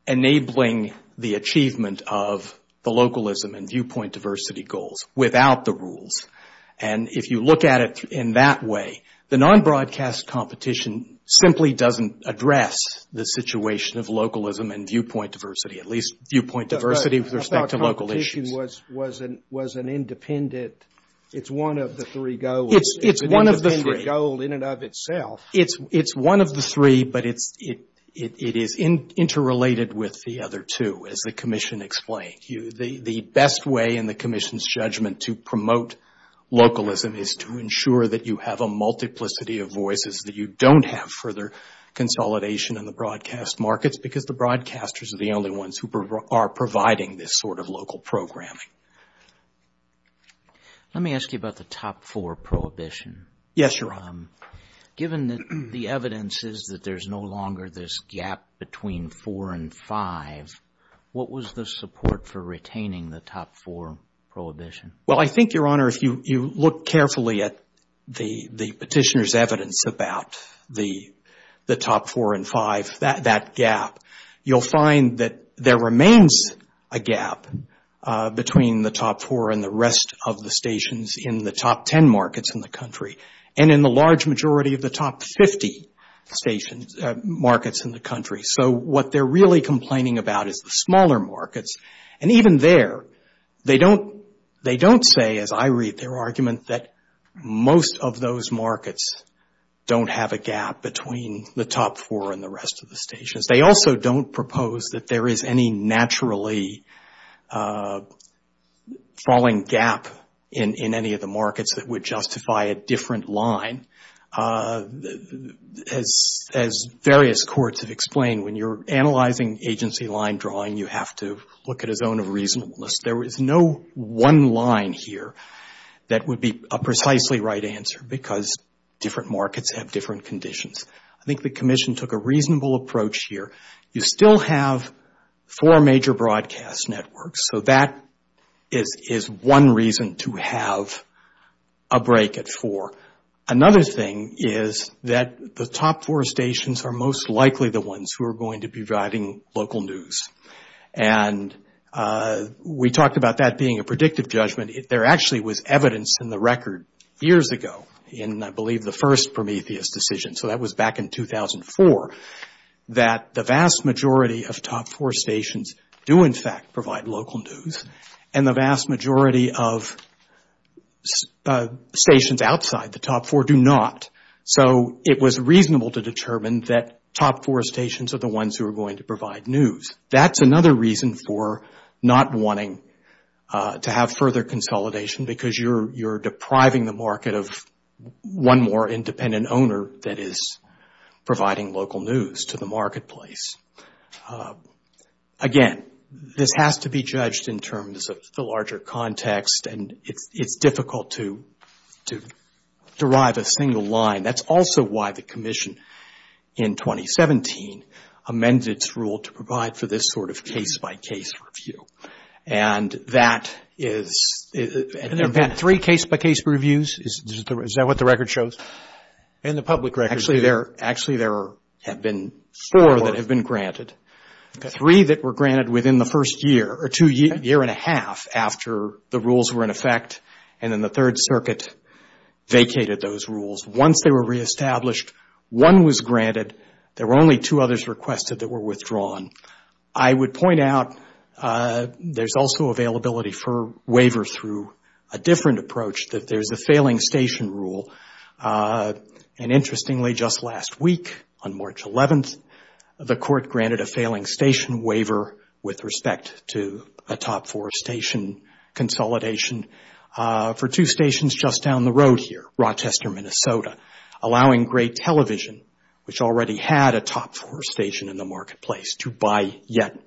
enabling the achievement of the localism and viewpoint diversity goals without the rules. And if you look at it in that way, the non-broadcast competition simply doesn't address the situation of localism and viewpoint diversity, at least viewpoint diversity with respect to local issues. I thought competition was an independent, it's one of the three goals. It's one of the three. It's an independent goal in and of itself. It's one of the three, but it is interrelated with the other two, as the Commission explained. The best way in the Commission's judgment to promote localism is to ensure that you have a multiplicity of voices, that you don't have further consolidation in the broadcast markets because the broadcasters are the only ones who are providing this sort of local programming. Let me ask you about the top four prohibition. Yes, Your Honor. Given that the evidence is that there's no longer this gap between four and five, what was the support for retaining the top four prohibition? Well, I think, Your Honor, if you look carefully at the petitioner's evidence about the top four and five, that gap, you'll find that there remains a gap between the top four and the rest of the stations in the top ten markets in the country and in the large majority of the top 50 markets in the country. So what they're really complaining about is the smaller markets. And even there, they don't say, as I read their argument, that most of those markets don't have a gap between the top four and the rest of the stations. They also don't propose that there is any naturally falling gap in any of the markets that would justify a different line. As various courts have explained, when you're analyzing agency line drawing, you have to look at a zone of reasonableness. There is no one line here that would be a precisely right answer because different markets have different conditions. I think the Commission took a reasonable approach here. You still have four major broadcast networks, so that is one reason to have a break at four. Another thing is that the top four stations are most likely the ones who are going to be providing local news. And we talked about that being a predictive judgment. There actually was evidence in the record years ago in, I believe, the first Prometheus decision. So that was back in 2004, that the vast majority of top four stations do in fact provide local news and the vast majority of stations outside the top four do not. So it was reasonable to determine that top four stations are the ones who are going to provide news. That's another reason for not wanting to have further consolidation because you're depriving the market of one more independent owner that is providing local news to the marketplace. Again, this has to be judged in terms of the larger context and it's difficult to derive a single line. That's also why the Commission in 2017 amended its rule to provide for this sort of case-by-case review. And there have been three case-by-case reviews. Is that what the record shows? In the public record. Actually, there have been four that have been granted. Three that were granted within the first year or two year and a half after the rules were in effect and then the Third Circuit vacated those rules. Once they were reestablished, one was granted. There were only two others requested that were withdrawn. I would point out there's also availability for waivers through a different approach. There's a failing station rule. And interestingly, just last week on March 11th, the Court granted a failing station waiver with respect to a top four station consolidation for two stations just down the road here, Rochester, Minnesota, allowing Great Television, which already had a top four station in the marketplace, to buy yet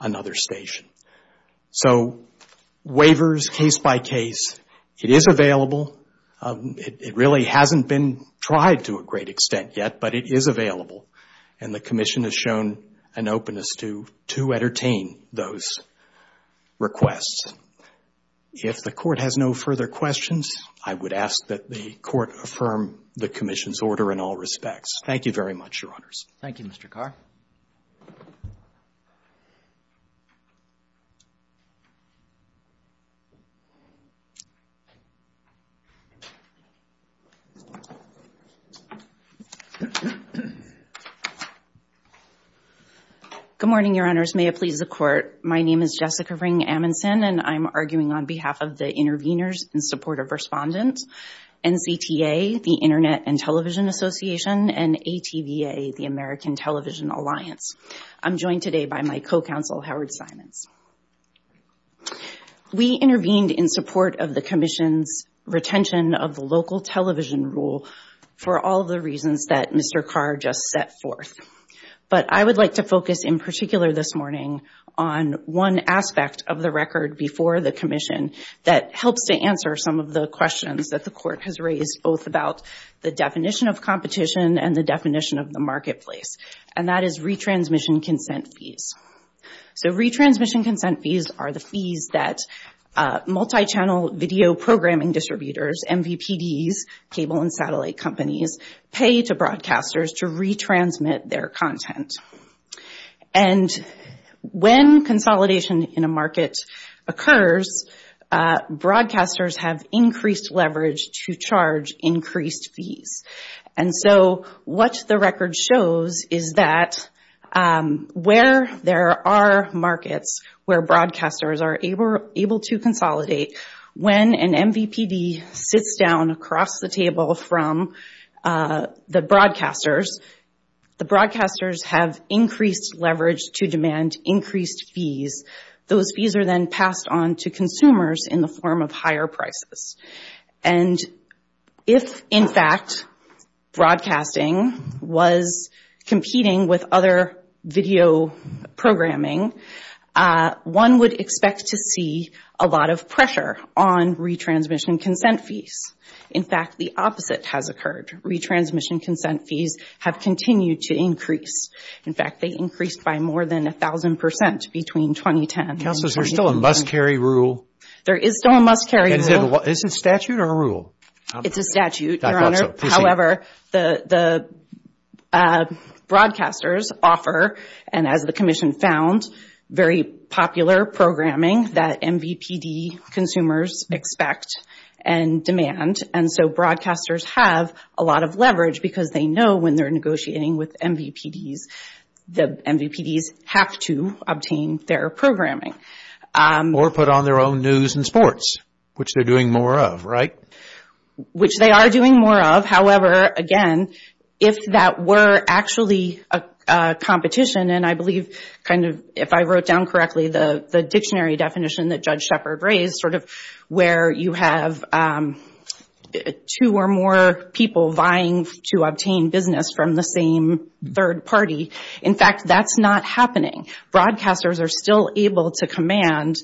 another station. So waivers, case-by-case, it is available. It really hasn't been tried to a great extent yet, but it is available. And the Commission has shown an openness to entertain those requests. If the Court has no further questions, I would ask that the Court affirm the Commission's order in all respects. Thank you very much, Your Honors. Thank you, Mr. Carr. Good morning, Your Honors. May it please the Court. My name is Jessica Ring-Amundson, and I'm arguing on behalf of the interveners in support of respondents, NCTA, the Internet and Television Association, and ATVA, the American Television Alliance. I'm joined today by my co-counsel, Howard Simons. We intervened in support of the Commission's retention of the local television rule for all the reasons that Mr. Carr just set forth. But I would like to focus in particular this morning on one aspect of the record before the Commission that helps to answer some of the questions that the Court has raised, both about the definition of competition and the definition of the marketplace, and that is retransmission consent fees. So retransmission consent fees are the fees that multi-channel video programming distributors, MVPDs, cable and satellite companies, pay to broadcasters to retransmit their content. And when consolidation in a market occurs, broadcasters have increased leverage to charge increased fees. And so what the record shows is that where there are markets where broadcasters are able to consolidate, when an MVPD sits down across the table from the broadcasters, the broadcasters have increased leverage to demand increased fees. Those fees are then passed on to consumers in the form of higher prices. And if, in fact, broadcasting was competing with other video programming, one would expect to see a lot of pressure on retransmission consent fees. In fact, the opposite has occurred. Retransmission consent fees have continued to increase. In fact, they increased by more than 1,000 percent between 2010. Counsel, is there still a must-carry rule? There is still a must-carry rule. Is it a statute or a rule? It's a statute, Your Honor. I thought so. However, the broadcasters offer, and as the Commission found, very popular programming that MVPD consumers expect and demand. And so broadcasters have a lot of leverage because they know when they're negotiating with MVPDs, the MVPDs have to obtain their programming. Or put on their own news and sports, which they're doing more of, right? Which they are doing more of. However, again, if that were actually a competition, and I believe kind of, if I wrote down correctly, the dictionary definition that Judge Shepard raised sort of where you have two or more people vying to obtain business from the same third party. In fact, that's not happening. Broadcasters are still able to command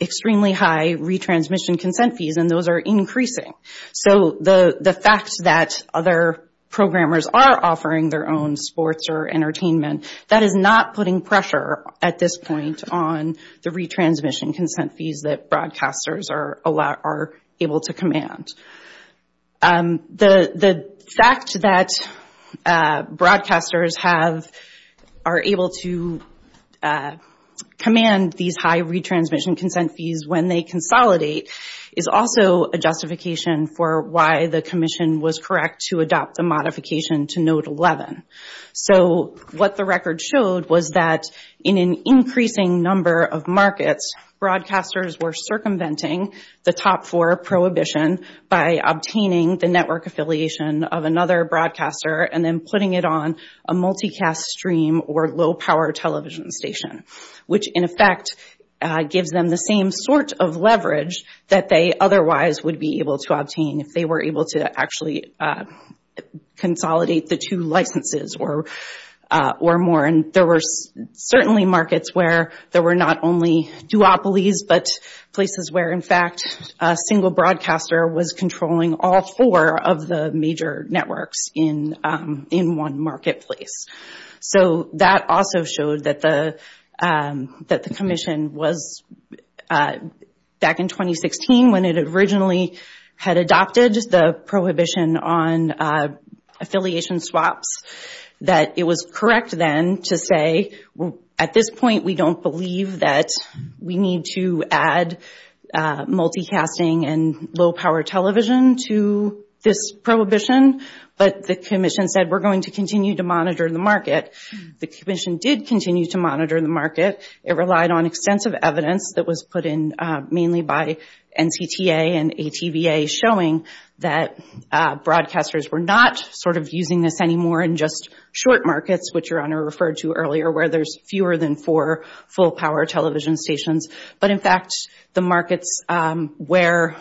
extremely high retransmission consent fees, and those are increasing. So the fact that other programmers are offering their own sports or entertainment, that is not putting pressure, at this point, on the retransmission consent fees that broadcasters are able to command. The fact that broadcasters are able to command these high retransmission consent fees when they consolidate is also a justification for why the commission was correct to adopt a modification to Note 11. So what the record showed was that in an increasing number of markets, broadcasters were circumventing the top four prohibition by obtaining the network affiliation of another broadcaster and then putting it on a multicast stream or low-power television station, which, in effect, gives them the same sort of leverage that they otherwise would be able to obtain if they were able to actually consolidate the two licenses or more. And there were certainly markets where there were not only duopolies, but places where, in fact, a single broadcaster was controlling all four of the major networks in one marketplace. So that also showed that the commission was, back in 2016, when it originally had adopted the prohibition on affiliation swaps, that it was correct then to say, at this point we don't believe that we need to add multicasting and low-power television to this prohibition, but the commission said we're going to continue to monitor the market. The commission did continue to monitor the market. It relied on extensive evidence that was put in mainly by NCTA and ATVA showing that broadcasters were not sort of using this anymore in just short markets, which Your Honor referred to earlier, where there's fewer than four full-power television stations. But, in fact, the markets where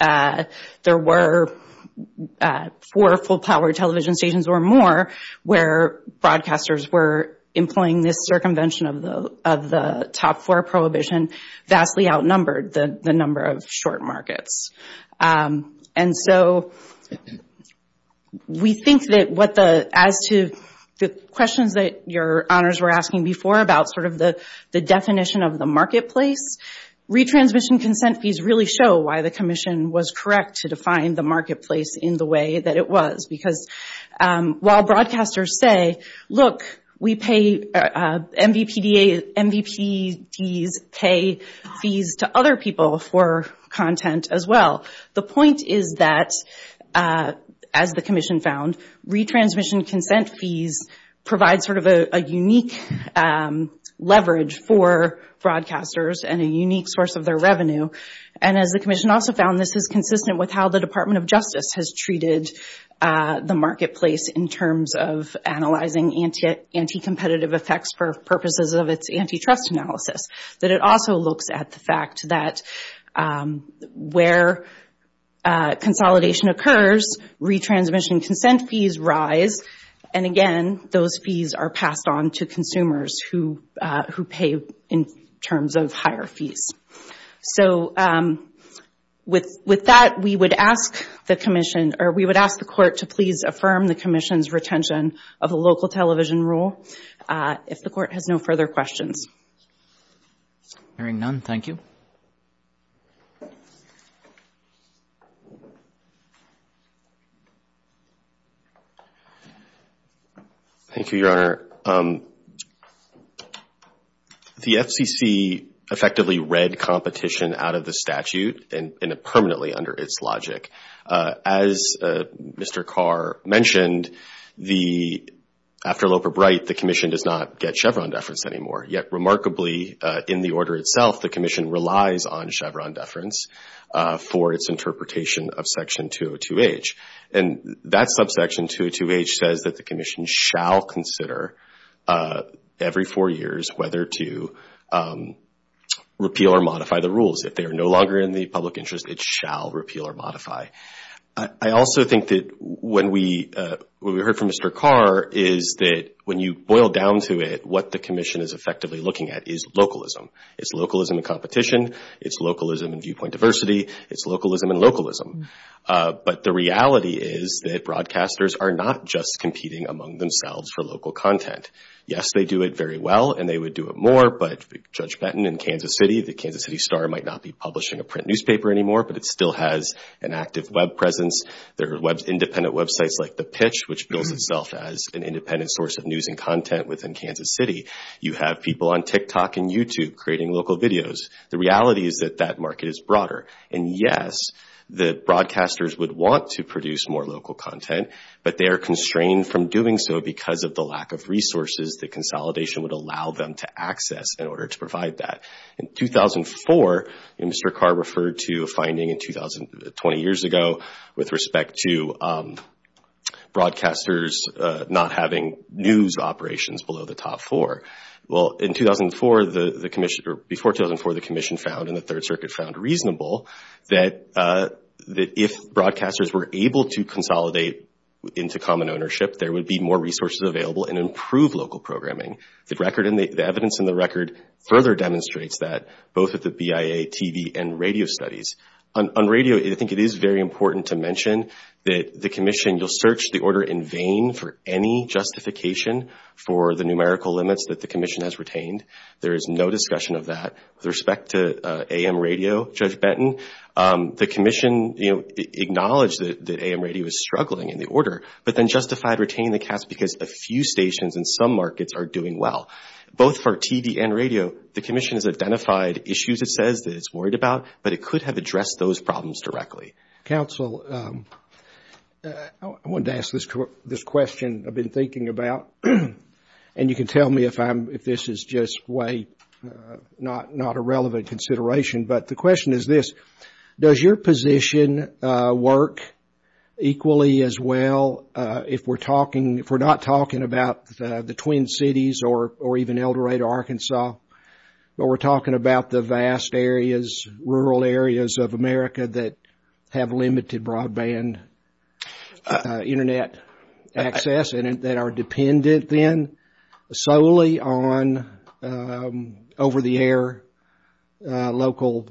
there were four full-power television stations or more where broadcasters were employing this circumvention of the top-four prohibition vastly outnumbered the number of short markets. And so we think that as to the questions that Your Honors were asking before about sort of the definition of the marketplace, retransmission consent fees really show why the commission was correct to define the marketplace in the way that it was. Because while broadcasters say, look, MVPDs pay fees to other people for content as well, the point is that, as the commission found, retransmission consent fees provide sort of a unique leverage for broadcasters and a unique source of their revenue. And as the commission also found, this is consistent with how the Department of Justice has treated the marketplace in terms of analyzing anti-competitive effects for purposes of its antitrust analysis, that it also looks at the fact that where consolidation occurs, retransmission consent fees rise. And, again, those fees are passed on to consumers who pay in terms of higher fees. So with that, we would ask the commission or we would ask the court to please affirm the commission's retention of the local television rule if the court has no further questions. Hearing none, thank you. Thank you, Your Honor. Your Honor, the FCC effectively read competition out of the statute and permanently under its logic. As Mr. Carr mentioned, after Loper-Bright, the commission does not get Chevron deference anymore. Yet, remarkably, in the order itself, the commission relies on Chevron deference for its interpretation of Section 202H. And that subsection, 202H, says that the commission shall consider every four years whether to repeal or modify the rules. If they are no longer in the public interest, it shall repeal or modify. I also think that what we heard from Mr. Carr is that when you boil down to it, what the commission is effectively looking at is localism. It's localism in competition. It's localism in viewpoint diversity. It's localism in localism. But the reality is that broadcasters are not just competing among themselves for local content. Yes, they do it very well, and they would do it more, but Judge Benton in Kansas City, the Kansas City Star might not be publishing a print newspaper anymore, but it still has an active web presence. There are independent websites like The Pitch, which bills itself as an independent source of news and content within Kansas City. You have people on TikTok and YouTube creating local videos. The reality is that that market is broader. And yes, the broadcasters would want to produce more local content, but they are constrained from doing so because of the lack of resources that consolidation would allow them to access in order to provide that. In 2004, Mr. Carr referred to a finding 20 years ago with respect to broadcasters not having news operations below the top four. Well, before 2004, the Commission found and the Third Circuit found reasonable that if broadcasters were able to consolidate into common ownership, there would be more resources available and improve local programming. The evidence in the record further demonstrates that, both at the BIA, TV, and radio studies. On radio, I think it is very important to mention that the Commission will search the order in vain for any justification for the numerical limits that the Commission has retained. There is no discussion of that. With respect to AM radio, Judge Benton, the Commission, you know, acknowledged that AM radio is struggling in the order, but then justified retaining the cast because a few stations in some markets are doing well. Both for TV and radio, the Commission has identified issues it says that it's worried about, but it could have addressed those problems directly. Counsel, I wanted to ask this question I've been thinking about, and you can tell me if this is just way not a relevant consideration, but the question is this, does your position work equally as well if we're talking, if we're not talking about the Twin Cities or even Eldorado, Arkansas, but we're talking about the vast areas, rural areas of America that have limited broadband Internet access and that are dependent then solely on over-the-air local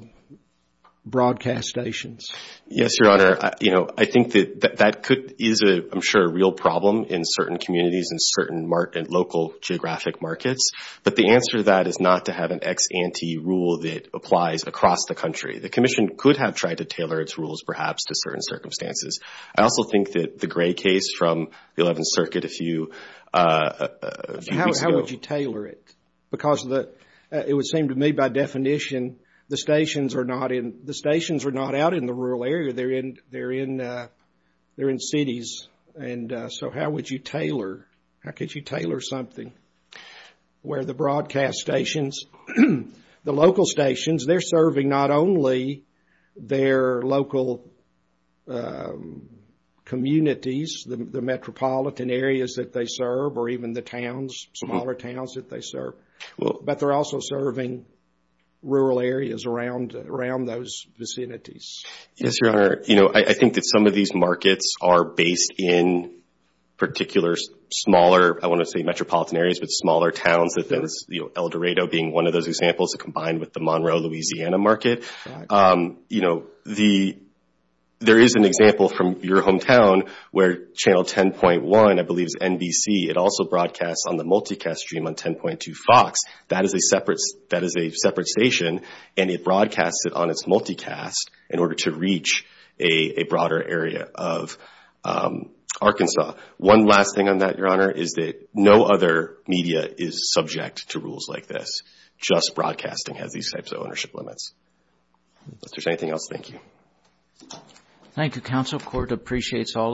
broadcast stations? Yes, Your Honor. You know, I think that that could, is, I'm sure, a real problem in certain communities and certain local geographic markets, but the answer to that is not to have an ex ante rule that applies across the country. The Commission could have tried to tailor its rules perhaps to certain circumstances. I also think that the gray case from the 11th Circuit a few weeks ago. How would you tailor it? Because it would seem to me by definition the stations are not in, the stations are not out in the rural area. They're in cities, and so how would you tailor, how could you tailor something? Where the broadcast stations, the local stations, they're serving not only their local communities, the metropolitan areas that they serve or even the towns, smaller towns that they serve, but they're also serving rural areas around those vicinities. Yes, Your Honor. You know, I think that some of these markets are based in particular smaller, I want to say metropolitan areas, but smaller towns. El Dorado being one of those examples combined with the Monroe, Louisiana market. You know, there is an example from your hometown where Channel 10.1, I believe, is NBC. It also broadcasts on the multicast stream on 10.2 Fox. That is a separate station, and it broadcasts it on its multicast in order to reach a broader area of Arkansas. One last thing on that, Your Honor, is that no other media is subject to rules like this. Just broadcasting has these types of ownership limits. If there's anything else, thank you. Thank you, Counsel. The Court appreciates all of you.